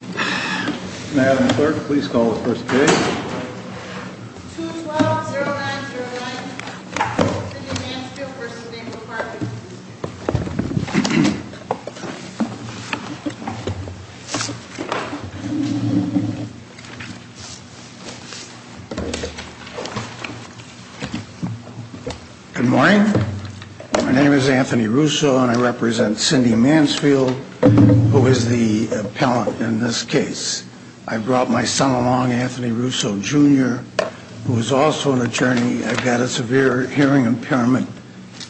Good morning. My name is Anthony Russo and I represent Cindy Mansfield, who is the appellant in this case. I brought my son along, Anthony Russo Jr., who is also an attorney. I've got a severe hearing impairment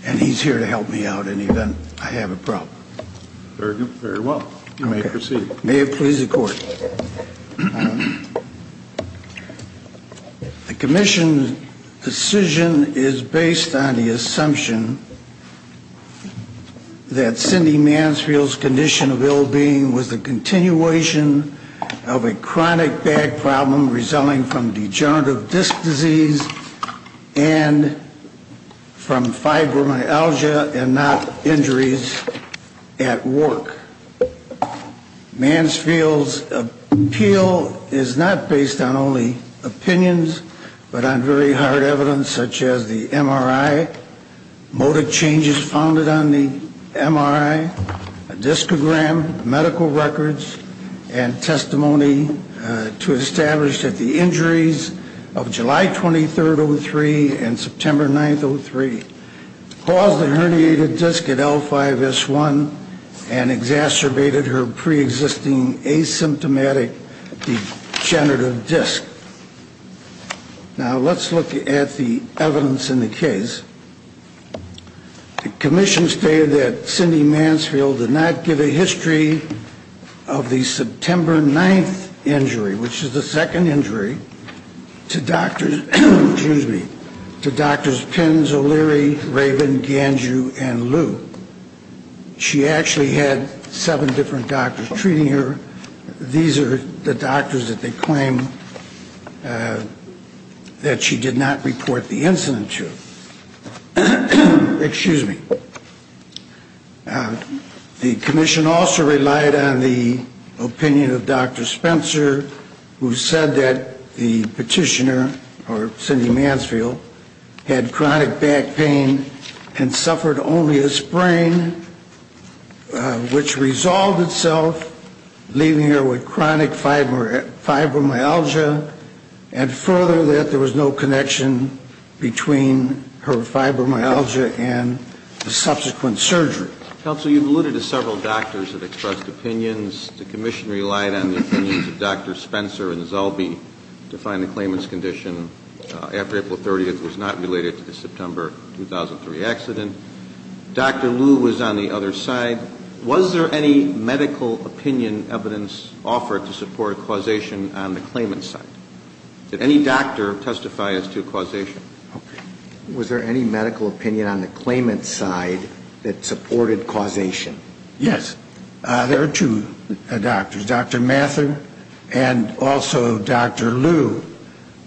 and he's here to help me out in the event I have a problem. Very good. Very well. You may proceed. May it please the Court. The Commission's decision is based on the assumption that Cindy Mansfield's condition of ill-being was the continuation of a chronic back problem resulting from degenerative disc disease and from fibromyalgia and not injuries at work. Mansfield's appeal is not based on only opinions, but on very hard evidence such as the MRI, motor changes founded on the MRI, a discogram, medical records and testimony to establish that the injuries of July 23rd, 03 and September 9th, 03 caused a herniated disc at L5-S1 and exacerbated her pre-existing asymptomatic degenerative disc. Now let's look at the evidence in the case. The Commission stated that Cindy Mansfield did not give a history of the September 9th injury, which is the second injury, to doctors Penn, O'Leary, Raven, Ganju and Liu. She actually had seven different doctors treating her. These are the doctors that they claim that she did not report the incident to. The Commission also relied on the opinion of Dr. Spencer, who said that the petitioner, or Cindy Mansfield, had chronic back pain and suffered only a sprain, which resolved itself, leaving her with chronic fibromyalgia and further that there was no connection between her fibromyalgia and the subsequent surgery. Counsel, you've alluded to several doctors that expressed opinions. The Commission relied on the opinions of Dr. Spencer and Zellbe to find the claimant's condition after April 30th. It was not related to the September 2003 accident. Dr. Liu was on the other side. Was there any medical opinion evidence offered to support causation on the claimant's side? Did any doctor testify as to causation? Was there any medical opinion on the claimant's side that supported causation? Yes. There are two doctors, Dr. Mathur and also Dr. Liu.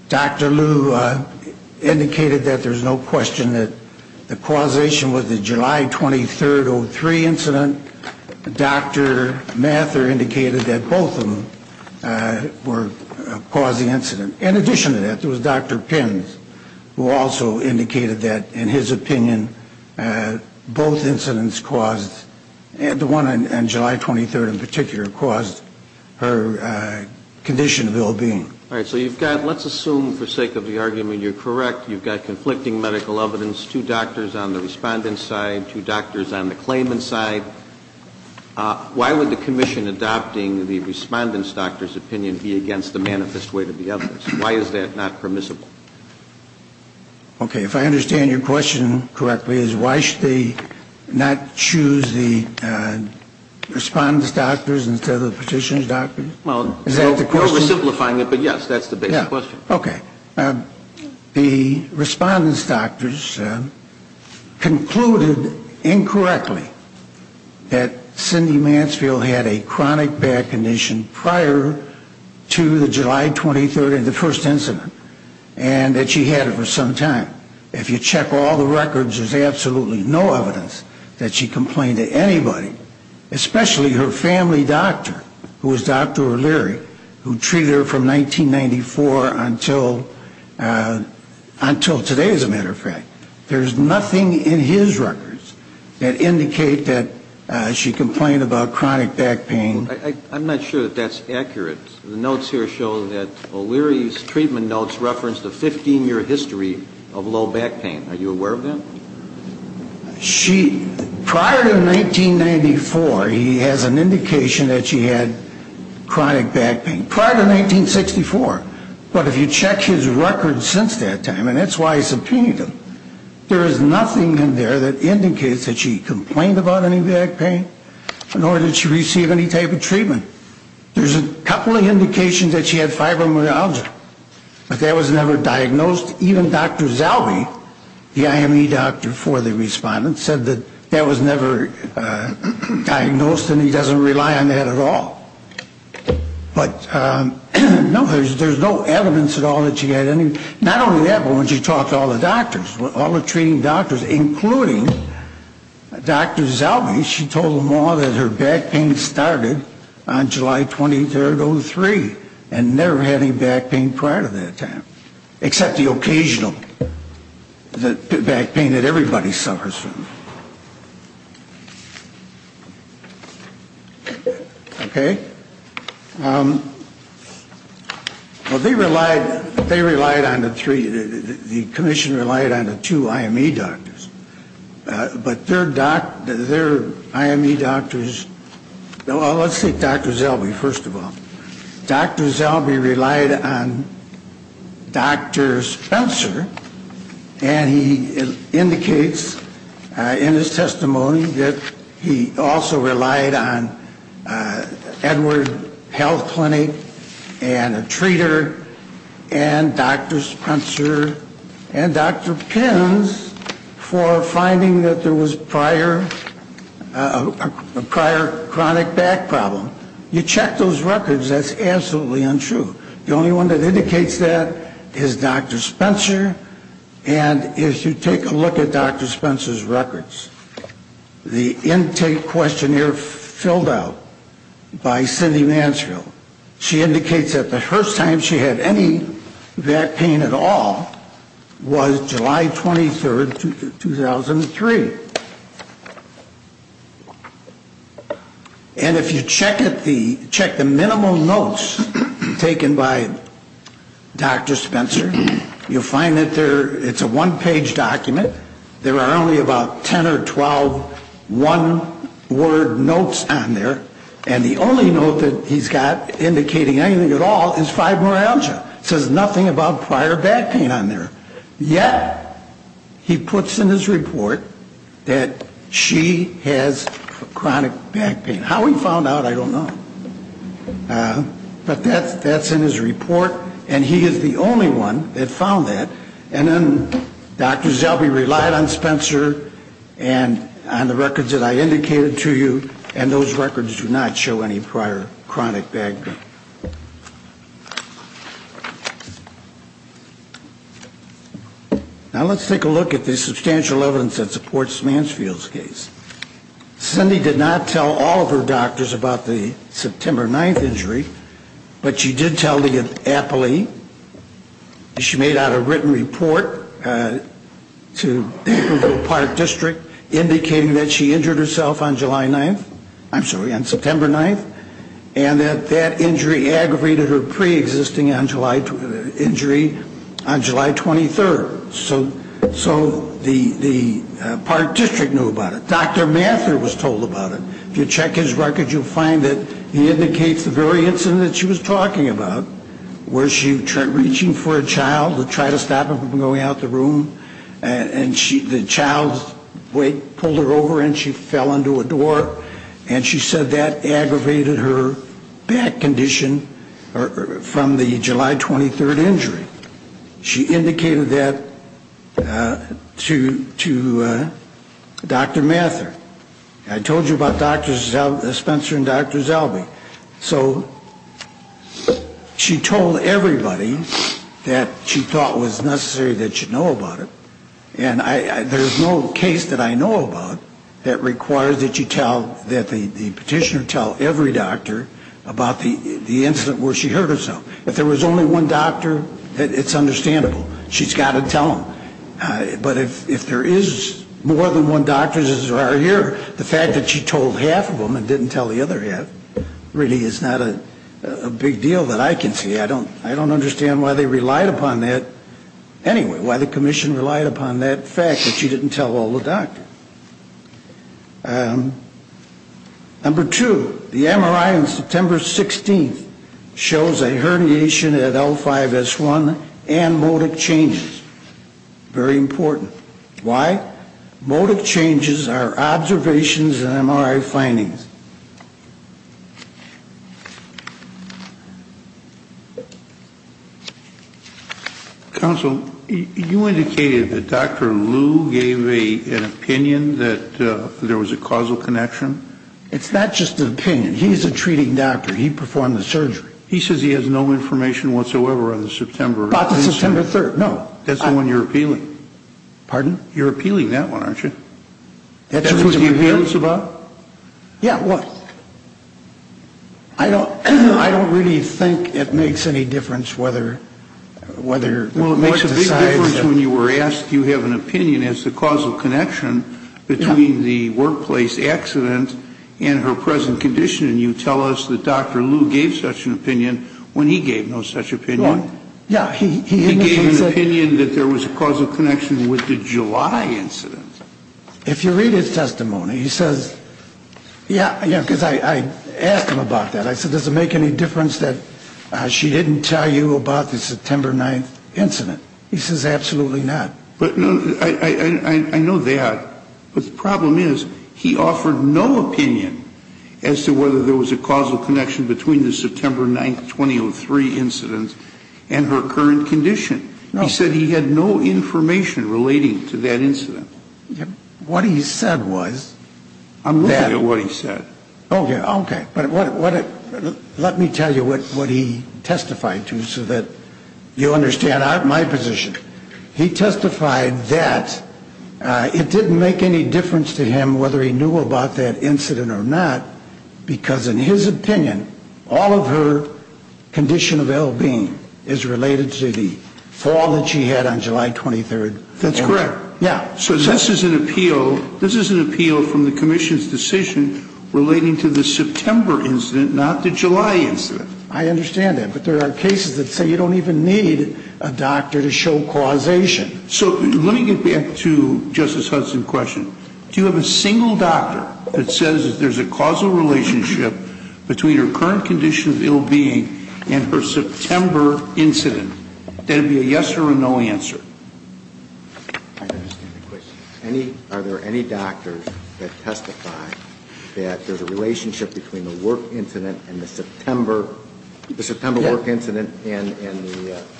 Dr. Liu indicated that there's no question that the causation was the July 23rd, 2003 incident. Dr. Mathur indicated that both of them were causing the incident. In addition to that, there was Dr. Pimms, who also indicated that, in his opinion, both incidents caused, and the one on July 23rd in particular, caused her condition of ill-being. All right. So you've got, let's assume for sake of the argument you're correct, you've got conflicting medical evidence, two doctors on the respondent's side, two doctors on the claimant's side. Why would the Commission adopting the respondent's doctor's opinion be against the manifest weight of the evidence? Why is that not permissible? Okay. If I understand your question correctly, it's why should they not choose the respondent's doctors instead of the petitioner's doctors? Well, no oversimplifying it, but yes, that's the basic question. Okay. The respondent's doctors concluded incorrectly that Cindy Mansfield had a chronic bad condition prior to the July 23rd, the first incident, and that she had it for some time. If you check all the records, there's absolutely no evidence that she complained to anybody, especially her family doctor, who was Dr. O'Leary, who treated her from 1994 until today, as a matter of fact. There's nothing in his records that indicate that she complained about chronic back pain. I'm not sure that that's accurate. The notes here show that O'Leary's treatment notes reference the 15-year history of low back pain. Are you aware of that? She, prior to 1994, he has an indication that she had chronic back pain. Prior to 1964. But if you check his records since that time, and that's why he's subpoenaed him, there is nothing in there that indicates that she had treatment. There's a couple of indications that she had fibromyalgia, but that was never diagnosed. Even Dr. Zalby, the IME doctor for the respondent, said that that was never diagnosed and he doesn't rely on that at all. But no, there's no evidence at all that she had any, not only that, but when she talked to all the doctors, all Dr. Zalby, she told them all that her back pain started on July 23rd, 03, and never had any back pain prior to that time. Except the occasional back pain that everybody suffers from. Okay? Well, they relied, they relied on the three, the commission relied on the two IME doctors. But their doctor, their IME doctors, well, let's say Dr. Zalby, first of all. Dr. Zalby relied on Dr. Spencer, and he indicates in his testimony that he also relied on Edward Health Clinic and a treater and Dr. Spencer and Dr. Pins for finding that there was prior, a prior chronic back problem. You check those records, that's absolutely untrue. The only one that indicates that is Dr. Spencer, and if you take a look at Dr. Spencer's records, the intake questionnaire filled out by Cindy Mansfield, she indicates that the first time she had any back pain at all was July 23rd, 2003. And if you check the minimal notes taken by Dr. Spencer, you'll find that it's a one-page document. There are only about 10 or 12 one-word notes on there. And the only note that he's got indicating anything at all is fibromyalgia. It says nothing about prior back pain on there. Yet, he puts in his report that she has chronic back pain. How he found out, I don't know. But that's in his report, and he is the only one that found that. And then Dr. Zelby relied on Spencer and on the records that I indicated to you, and those records do not show any prior chronic back pain. Now let's take a look at the substantial evidence that supports Mansfield's case. Cindy did not tell all of her doctors about the September 9th report to the Park District indicating that she injured herself on July 9th, I'm sorry, on September 9th, and that that injury aggravated her preexisting injury on July 23rd. So the Park District knew about it. Dr. Mathur was told about it. If you check his record, you'll find that he was going out of the room, and the child's weight pulled her over and she fell into a door. And she said that aggravated her back condition from the July 23rd injury. She indicated that to Dr. Mathur. I told you about Spencer and Dr. Zelby. So she told everybody that she thought was necessary that she know about it. And I, there's no case that I know about that requires that you tell, that the petitioner tell every doctor about the incident where she hurt herself. If there was only one doctor, it's understandable. She's got to tell them. But if there is more than one doctor as there are here, the fact that she told half of them and didn't tell the other half really is not a big deal that I can see. I don't, I don't understand why they relied upon that. Anyway, why the commission relied upon that fact that she didn't tell all the doctors. Number two, the MRI on September 16th shows a that there was a causal connection. It's not just an opinion. He's a treating doctor. He performed the surgery. He says he has no information whatsoever on the September 3rd. No. That's the one you're appealing. Pardon? You're appealing that one, aren't you? That's what you're appealing us about? Yeah, what? I don't, I don't really think it makes any difference whether, whether. Well, it makes a big difference when you were asked if you have an opinion as to the causal connection between the workplace accident and her present condition. And you tell us that Dr. Liu gave such an opinion when he gave no such opinion. Yeah. He gave an opinion that there was a causal connection with the July incident. If you read his testimony, he says, yeah, yeah, because I asked him about that. I said, does it make any difference that she didn't tell you about the September 9th incident? He says, absolutely not. But no, I know that. But the problem is he offered no opinion as to whether there was a causal connection between the September 9th 2003 incident and her current condition. No. He said he had no information relating to that incident. What he said was. I'm looking at what he said. Okay. Okay. But what, what, let me tell you what, what he testified to so that you understand my position. He testified that it didn't make any difference to him whether he knew about that incident or not, because in his opinion, all of her condition of L.B. is related to the fall that she had on July 23rd. That's correct. Yeah. So this is an appeal. This is an appeal from the commission's decision relating to the September incident, not the July incident. I understand that. But there are cases that say you don't even need a doctor to show causation. So let me get back to Justice Hudson's question. Do you have a single doctor that says there's a causal relationship between her current condition of L.B. and her September incident? Then it would be a yes or a no answer.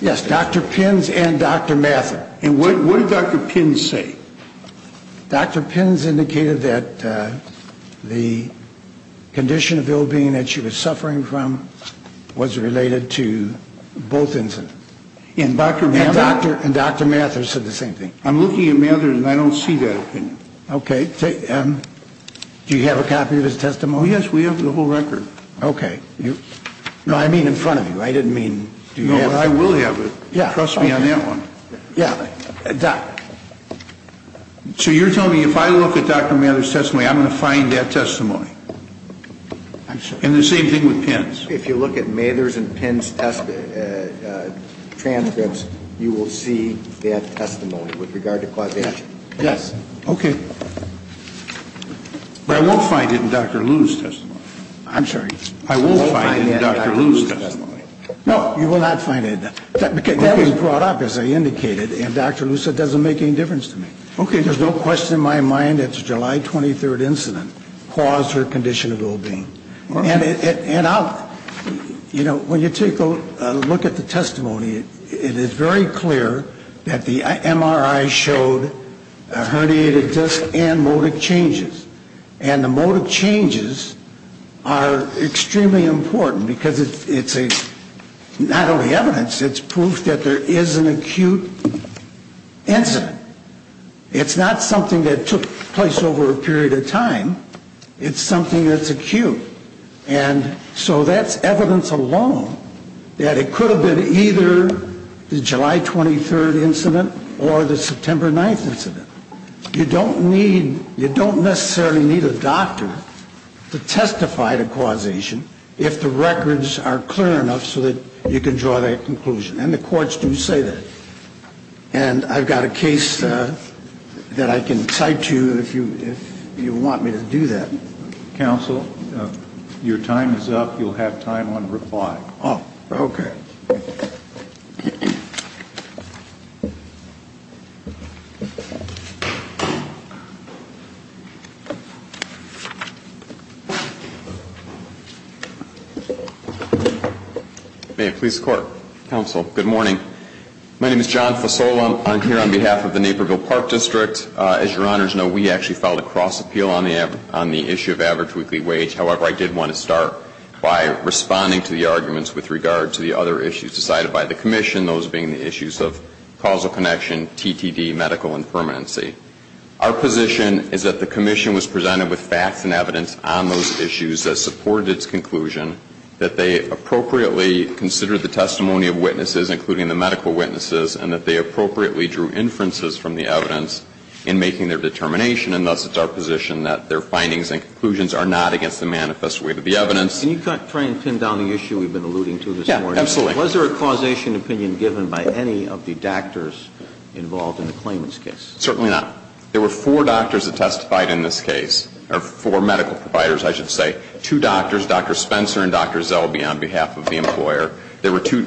Yes. Dr. Pins and Dr. Mathur. And what did Dr. Pins say? Dr. Pins indicated that the condition of L.B. that she was suffering from was related to both incidents. And Dr. Mathur said there's a causal relationship between her current condition of L.B. and her September incident. And Dr. Pins said the same thing. I'm looking at Mathur's and I don't see that opinion. Okay. Do you have a copy of his testimony? Yes, we have the whole record. Okay. No, I mean in front of you. I didn't mean. No, I will have it. Yeah. Trust me on that one. Yeah. So you're telling me if I look at Dr. Mathur's testimony, I'm going to find that testimony? I'm sorry. And the same thing with Pins? If you look at Mathur's and Pins' transcripts, you will see that testimony with regard to causation. Yes. Okay. But I won't find it in Dr. Lew's testimony. I'm sorry. I won't find it in Dr. Lew's testimony. No, you will not find it. That was brought up, as I indicated, and Dr. Lew said it doesn't make any difference to me. Okay. There's no question in my mind that the July 23rd incident caused her condition of L.B. And I'll, you know, when you take a look at the testimony, it is very clear that the MRI showed a herniated disc and modic changes. And the modic changes are extremely important because it's not only evidence, it's proof that there is an acute incident. It's not something that took place over a period of time. It's something that's acute. And so that's evidence alone that it could have been either the July 23rd incident or the September 9th incident. You don't need, you don't necessarily need a doctor to testify to causation if the records are clear enough so that you can draw that conclusion. And the courts do say that. And I've got a case that I can cite to you if you want me to do that. Counsel, your time is up. You'll have time on reply. Oh, okay. May it please the Court. Counsel, good morning. My name is John Fasola. I'm here on behalf of the Naperville Park District. As Your Honors know, we actually filed a cross appeal on the issue of average weekly wage. However, I did want to start by responding to the arguments with regard to the other issues decided by the Commission, those being the issues of causal connection, TTD, medical impermanency. Our position is that the Commission was presented with facts and evidence on those issues that supported its conclusion, that they appropriately considered the testimony of witnesses, including the medical witnesses, and that they appropriately drew inferences from the evidence in making their determination. And thus, it's our position that their findings and conclusions are not against the manifest weight of the evidence. Can you try and pin down the issue we've been alluding to this morning? Yeah, absolutely. Was there a causation opinion given by any of the doctors involved in the claimant's case? Certainly not. There were four doctors that testified in this case, or four medical providers, I should say. Two doctors, Dr. Spencer and Dr. Zelby, on behalf of the employer. There were two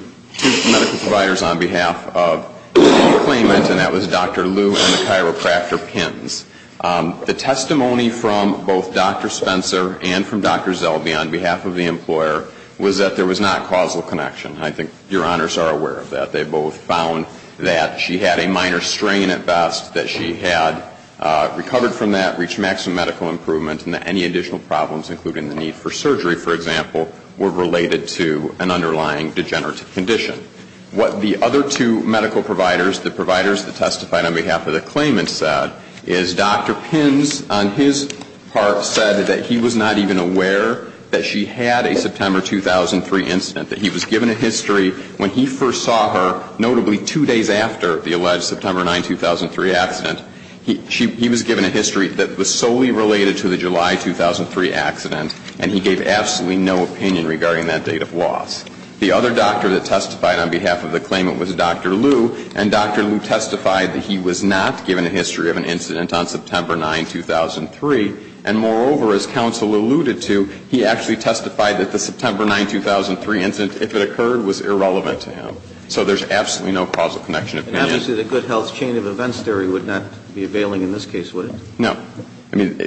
medical providers on behalf of the claimant, and that was Dr. Liu and the chiropractor, Pins. The testimony from both Dr. Spencer and from Dr. Zelby on behalf of the employer was that there was not causal connection. I think Your Honors are aware of that. They both found that she had a minor strain at best, that she had recovered from that, reached maximum medical improvement, and that any additional problems, including the need for surgery, for example, were related to an underlying degenerative condition. What the other two medical providers, the providers that testified on behalf of the claimant, said is Dr. Pins, on his part, said that he was not even aware that she had a September 2003 incident, that he was given a history when he first saw her, notably two days after the alleged September 9, 2003 accident. He was given a history that was solely related to the July 2003 accident, and he gave absolutely no opinion regarding that date of loss. The other doctor that testified on behalf of the claimant was Dr. Liu, and Dr. Liu testified that he was not given a history of an incident on September 9, 2003. And moreover, as counsel alluded to, he actually testified that the September 9, 2003 incident, if it occurred, was irrelevant to him. So there's absolutely no causal connection of opinion. And obviously the good health chain of events theory would not be availing in this case, would it? No. I mean,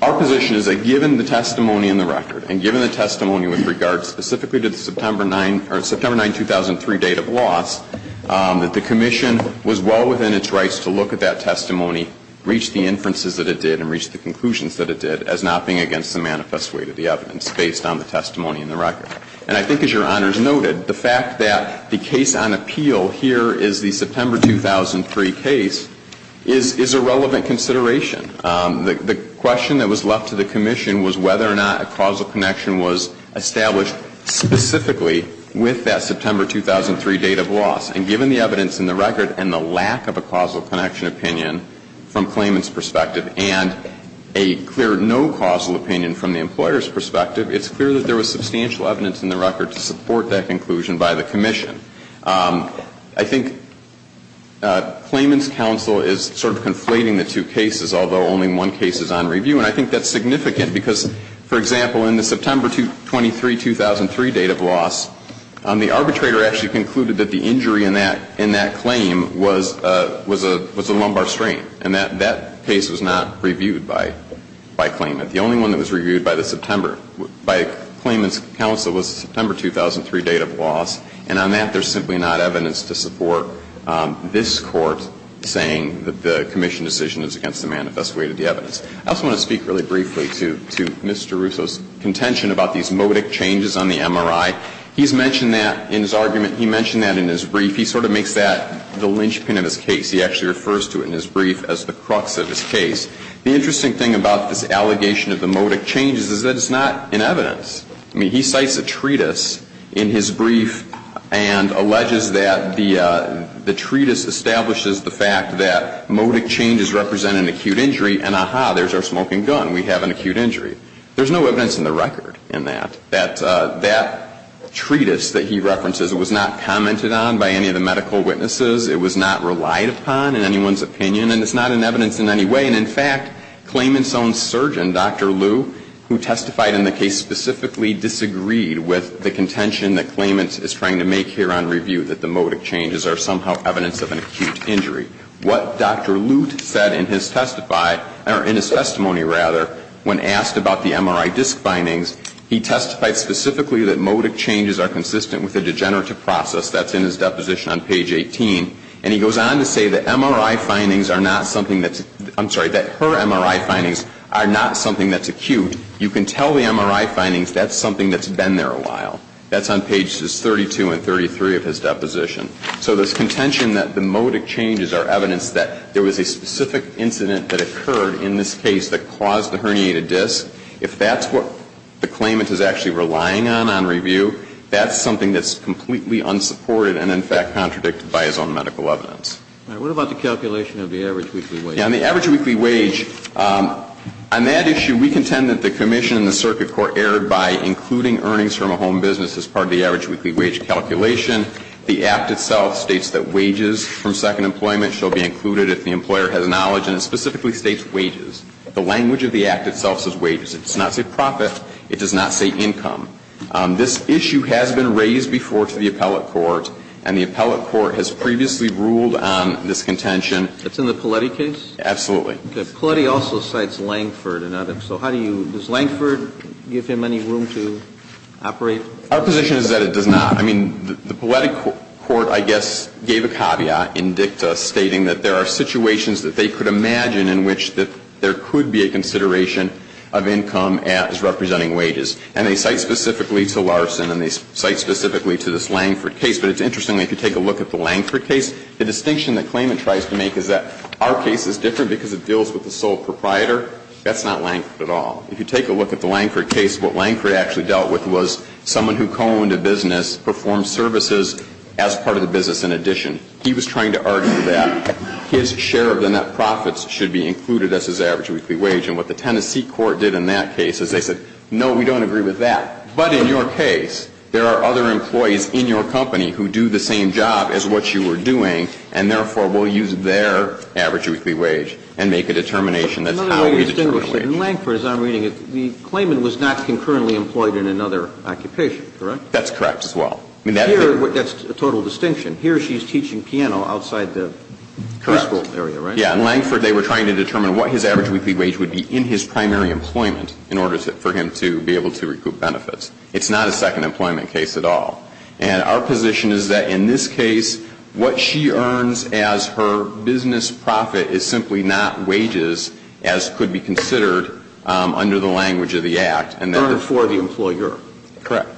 our position is that given the testimony in the record, and given the testimony with regard specifically to the September 9, 2003 date of loss, that the Commission was well within its rights to look at that testimony, reach the inferences that it did, and reach the conclusions that it did, as not being against the manifest weight of the evidence based on the testimony in the record. And I think, as Your Honors noted, the fact that the case on appeal here is the September 2003 case is a relevant consideration. The question that was left to the Commission was whether or not a causal connection was established specifically with that September 2003 date of loss. And given the evidence in the record and the lack of a causal connection opinion from claimant's perspective and a clear no causal opinion from the employer's perspective, it's clear that there was substantial evidence in the record to support that conclusion by the Commission. I think claimant's counsel is sort of conflating the two cases, although only one case is on review. And I think that's significant because, for example, in the September 23, 2003 date of loss, the arbitrator actually concluded that the injury in that claim was a lumbar strain. And that case was not reviewed by claimant. The only one that was reviewed by the September, by claimant's counsel was the September 2003 date of loss. And on that, there's simply not evidence to support this Court saying that the Commission decision is against the manifest weight of the evidence. I also want to speak really briefly to Mr. Russo's contention about these modic changes on the MRI. He's mentioned that in his argument. He mentioned that in his brief. He sort of makes that the linchpin of his case. He actually refers to it in his brief as the crux of his case. The interesting thing about this allegation of the modic changes is that it's not in evidence. I mean, he cites a treatise in his brief and alleges that the treatise establishes the fact that modic changes represent an acute injury. And, aha, there's our smoking gun. We have an acute injury. There's no evidence in the record in that, that that treatise that he references was not commented on by any of the medical witnesses. It was not relied upon in anyone's opinion. And it's not in evidence in any way. And, in fact, Klayman's own surgeon, Dr. Lu, who testified in the case specifically, disagreed with the contention that Klayman is trying to make here on review, that the modic changes are somehow evidence of an acute injury. What Dr. Lute said in his testimony when asked about the MRI disc findings, he testified specifically that modic changes are consistent with a degenerative process. That's in his deposition on page 18. And he goes on to say that MRI findings are not something that's, I'm sorry, that her MRI findings are not something that's acute. You can tell the MRI findings that's something that's been there a while. That's on pages 32 and 33 of his deposition. So this contention that the modic changes are evidence that there was a specific incident that occurred in this case that caused a herniated disc, that's something that's completely unsupported and, in fact, contradicted by his own medical evidence. Now, what about the calculation of the average weekly wage? On the average weekly wage, on that issue, we contend that the commission and the circuit court erred by including earnings from a home business as part of the average weekly wage calculation. The Act itself states that wages from second employment shall be included if the employer has knowledge. And it specifically states wages. The language of the Act itself says wages. It does not say profit. It does not say income. This issue has been raised before to the appellate court, and the appellate court has previously ruled on this contention. It's in the Poletti case? Absolutely. Okay. Poletti also cites Langford and others. So how do you do this? Does Langford give him any room to operate? Our position is that it does not. I mean, the Poletti court, I guess, gave a caveat in dicta stating that there are situations that they could imagine in which there could be a consideration of income as representing wages. And they cite specifically to Larson and they cite specifically to this Langford case. But it's interesting, if you take a look at the Langford case, the distinction that Clayman tries to make is that our case is different because it deals with the sole proprietor. That's not Langford at all. If you take a look at the Langford case, what Langford actually dealt with was someone who co-owned a business performed services as part of the business in addition. He was trying to argue that his share of the net profits should be included as his average weekly wage. And what the Tennessee court did in that case is they said, no, we don't agree with that. But in your case, there are other employees in your company who do the same job as what you were doing, and therefore, we'll use their average weekly wage and make That's how we determine a wage. Another way to distinguish it, in Langford, as I'm reading it, Clayman was not concurrently employed in another occupation, correct? That's correct as well. Here, that's a total distinction. Here she's teaching piano outside the preschool area, right? Correct. Yeah, in Langford, they were trying to determine what his average weekly wage would be in his primary employment in order for him to be able to recoup benefits. It's not a second employment case at all. And our position is that in this case, what she earns as her business profit is simply not wages as could be considered under the language of the Act. Earned for the employer. Correct.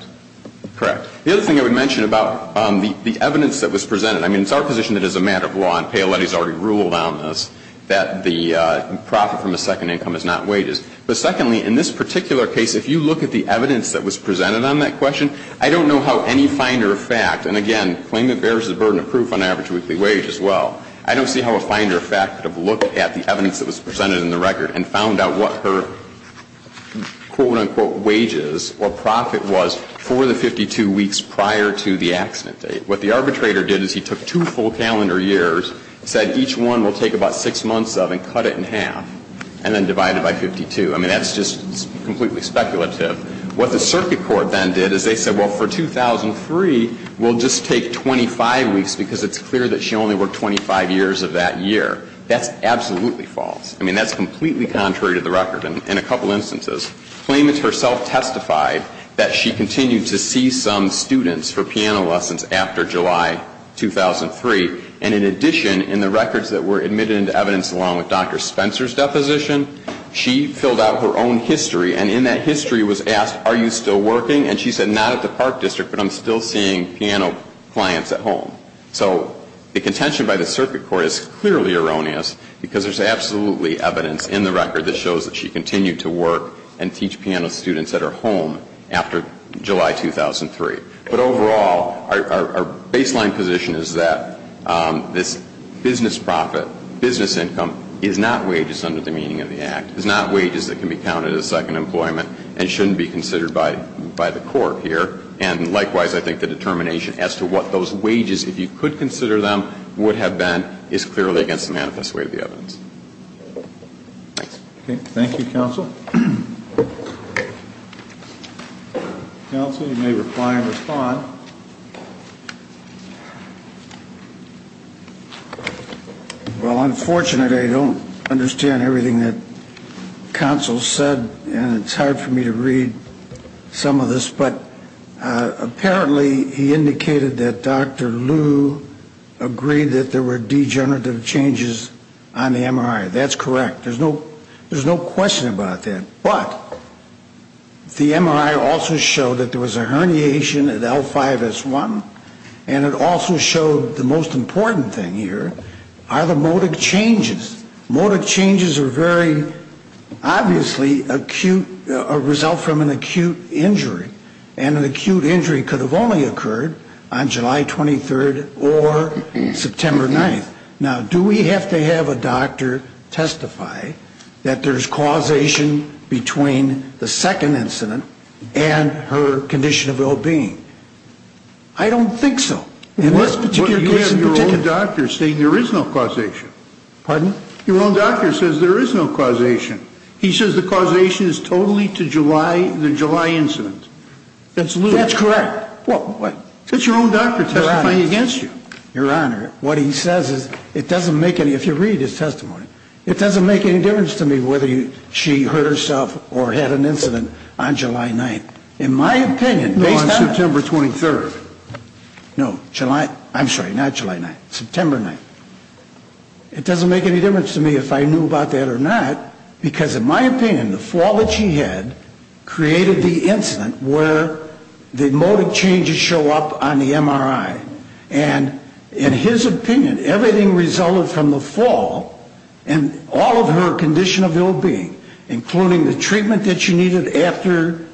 Correct. The other thing I would mention about the evidence that was presented, I mean, it's our position that as a matter of law, and Paoletti's already ruled on this, that the profit from a second income is not wages. But secondly, in this particular case, if you look at the evidence that was presented on that question, I don't know how any finder of fact, and again, Clayman bears the burden of proof on average weekly wage as well. I don't see how a finder of fact could have looked at the evidence that was presented in the record and found out what her quote, unquote, wages or profit was for the 52 weeks prior to the accident date. What the arbitrator did is he took two full calendar years, said each one will take about six months of and cut it in half and then divide it by 52. I mean, that's just completely speculative. What the circuit court then did is they said, well, for 2003, we'll just take 25 weeks because it's clear that she only worked 25 years of that year. That's absolutely false. I mean, that's completely contrary to the record in a couple instances. Clayman herself testified that she continued to see some students for piano lessons after July 2003. And in addition, in the records that were admitted into evidence along with Dr. Spencer's deposition, she filled out her own history. And in that history was asked, are you still working? And she said, not at the Park District, but I'm still seeing piano clients at home. So the contention by the circuit court is clearly erroneous because there's absolutely evidence in the record that shows that she continued to work and teach piano students at her home after July 2003. But overall, our baseline position is that this business profit, business income, is not wages under the meaning of the Act, is not wages that can be counted as second employment and shouldn't be considered by the court here. And likewise, I think the determination as to what those wages, if you could consider them, would have been is clearly against the manifest way of the evidence. Okay. Thank you, counsel. Counsel, you may reply and respond. Well, unfortunately, I don't understand everything that counsel said, and it's hard for me to read some of this. But apparently he indicated that Dr. Liu agreed that there were degenerative changes on the MRI. That's correct. There's no question about that. But the MRI also showed that there was a herniation at L5S1, and it also showed the most important thing here are the And an acute injury could have only occurred on July 23rd or September 9th. Now, do we have to have a doctor testify that there's causation between the second incident and her condition of well-being? I don't think so. In this particular case in particular. But you have your own doctor saying there is no causation. Pardon? Your own doctor says there is no causation. He says the causation is totally to the July incident. That's correct. What? It's your own doctor testifying against you. Your Honor, what he says is it doesn't make any, if you read his testimony, it doesn't make any difference to me whether she hurt herself or had an incident on July 9th. In my opinion, based on September 23rd. No, July, I'm sorry, not July 9th, September 9th. It doesn't make any difference to me if I knew about that or not, because in my opinion, the fall that she had created the incident where the motive changes show up on the MRI. And in his opinion, everything resulted from the fall and all of her condition of ill-being, including the treatment that she needed after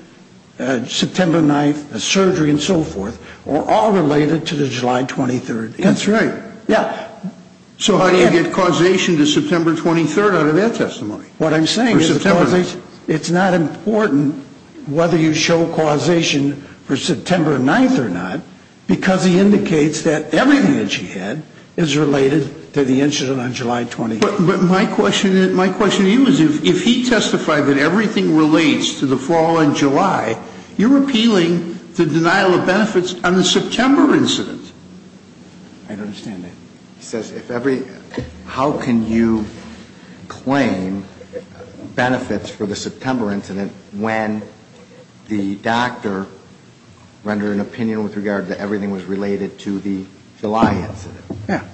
September 9th, the surgery and so forth, were all related to the July 23rd incident. That's right. Yeah. So how do you get causation to September 23rd out of that testimony? What I'm saying is it's not important whether you show causation for September 9th or not, because he indicates that everything that she had is related to the incident on July 23rd. But my question to you is if he testified that everything relates to the fall in July, you're appealing the denial of benefits on the September incident. I don't understand that. He says if every, how can you claim benefits for the September incident when the doctor rendered an opinion with regard to everything was related to the July incident? Yeah.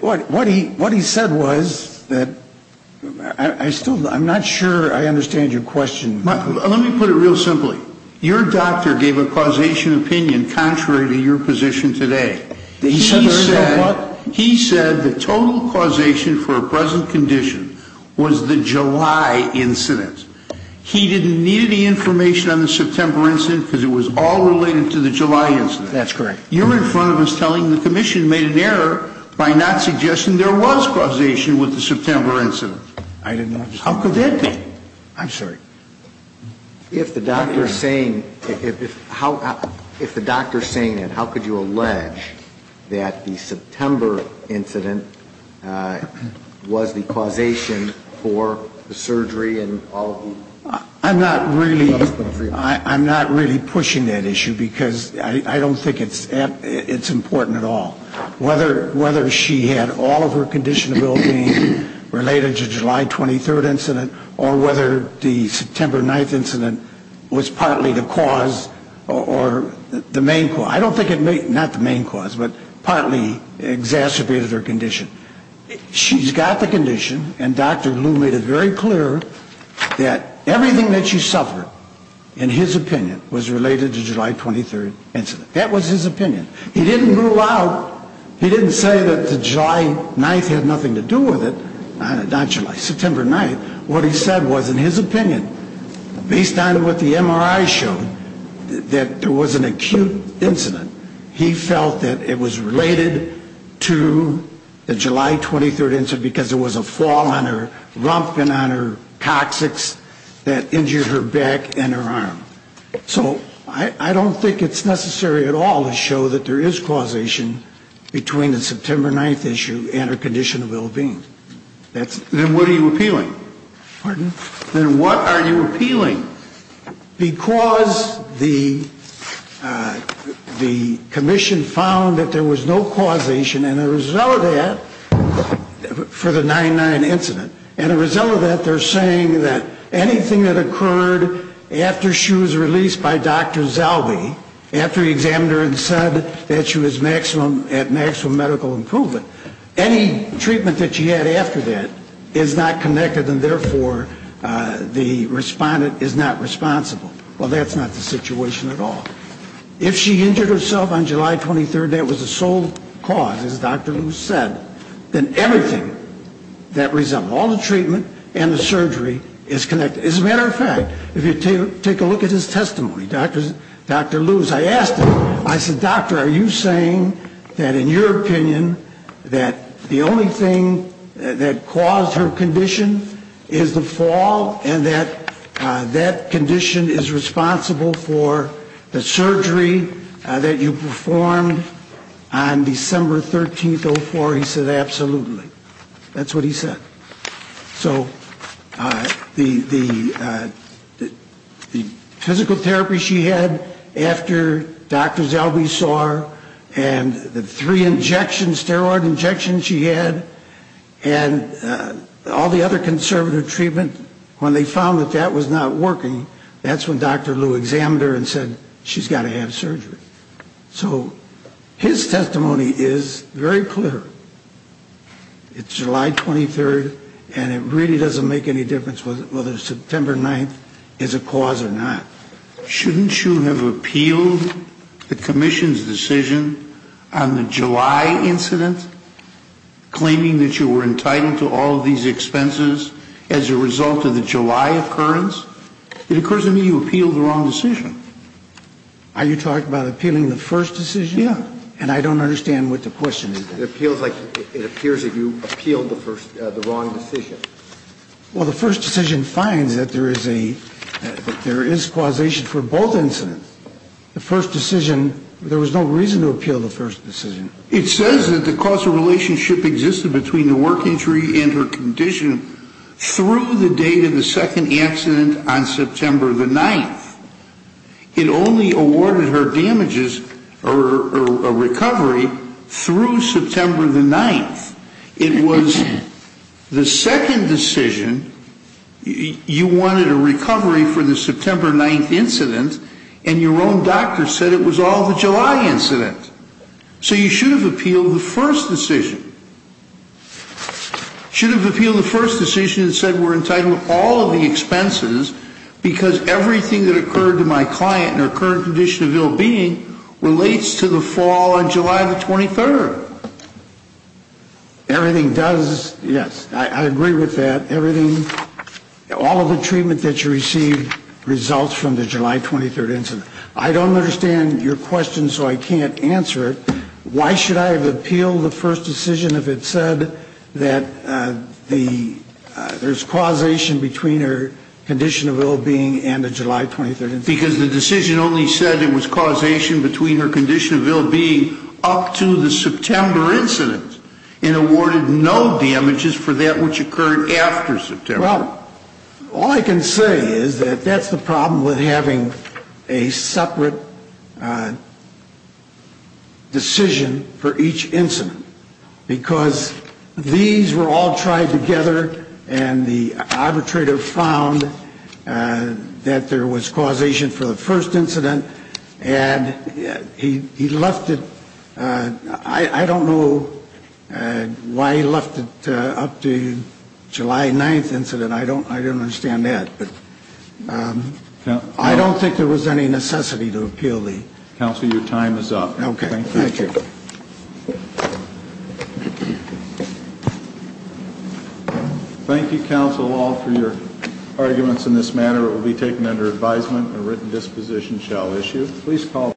What he said was that I still, I'm not sure I understand your question. Let me put it real simply. Your doctor gave a causation opinion contrary to your position today. He said the total causation for a present condition was the July incident. He didn't need any information on the September incident because it was all related to the July incident. That's correct. You're in front of us telling the commission made an error by not suggesting there was causation with the September incident. I did not. How could that be? I'm sorry. If the doctor is saying, if how, if the doctor is saying it, how could you allege that the September incident was the causation for the surgery and all of the... I'm not really, I'm not really pushing that issue because I don't think it's, it's important at all. Whether, whether she had all of her condition ability related to July 23rd incident or whether the September 9th incident was partly the cause or the main cause. I don't think it made, not the main cause, but partly exacerbated her condition. She's got the condition and Dr. Lou made it very clear that everything that she suffered in his opinion was related to July 23rd incident. That was his opinion. He didn't rule out, he didn't say that the July 9th had nothing to do with it, not July, September 9th. What he said was in his opinion, based on what the MRI showed, that there was an acute incident. He felt that it was related to the July 23rd incident because there was a fall on her rump and on her coccyx that injured her back and her arm. So I don't think it's necessary at all to show that there is causation between the September 9th issue and her condition of ill-being. That's... Then what are you appealing? Pardon? Then what are you appealing? Because the commission found that there was no causation and as a result of that, for the 9-9 incident, and as a result of that they're saying that anything that occurred after she was released by Dr. Zalby, after he examined her and said that she was at maximum medical improvement, any treatment that she had after that is not connected and therefore the respondent is not responsible. Well, that's not the situation at all. If she injured herself on July 23rd and that was the sole cause, as Dr. Luce said, then everything that resembled all the treatment and the surgery is connected. As a matter of fact, if you take a look at his testimony, Dr. Luce, I asked him, I said, is there anything that, in your opinion, that the only thing that caused her condition is the fall and that that condition is responsible for the surgery that you performed on December 13th, 04? He said, absolutely. That's what he said. So the physical therapy she had after Dr. Zalby saw her and the three injections, steroid injections she had, and all the other conservative treatment, when they found that that was not working, that's when Dr. Luce examined her and said, she's got to have surgery. So his testimony is very clear. It's July 23rd, and it really doesn't make any difference whether September 9th is a cause or not. Shouldn't you have appealed the commission's decision on the July incident, claiming that you were entitled to all of these expenses as a result of the July occurrence? It occurs to me you appealed the wrong decision. Are you talking about appealing the first decision? Yeah. And I don't understand what the question is. It appeals like it appears that you appealed the wrong decision. Well, the first decision finds that there is causation for both incidents. The first decision, there was no reason to appeal the first decision. It says that the causal relationship existed between the work injury and her condition through the date of the second accident on September the 9th. It only awarded her damages or recovery through September the 9th. It was the second decision. You wanted a recovery for the September 9th incident, and your own doctor said it was all the July incident. So you should have appealed the first decision. You should have appealed the first decision and said we're entitled to all of the expenses because everything that occurred to my client in her current condition of ill-being relates to the fall on July the 23rd. Everything does, yes, I agree with that. Everything, all of the treatment that you received results from the July 23rd incident. I don't understand your question, so I can't answer it. Why should I have appealed the first decision if it said that there's causation between her condition of ill-being and the July 23rd incident? Because the decision only said it was causation between her condition of ill-being up to the September incident and awarded no damages for that which occurred after September. Well, all I can say is that that's the problem with having a separate decision for each incident because these were all tried together and the arbitrator found that there was causation for the first incident and he left it, I don't know why he left it up to the July 9th incident. I don't understand that. I don't think there was any necessity to appeal the... Counsel, your time is up. Okay, thank you. Thank you, counsel, all for your arguments in this matter. This order will be taken under advisement and a written disposition shall issue.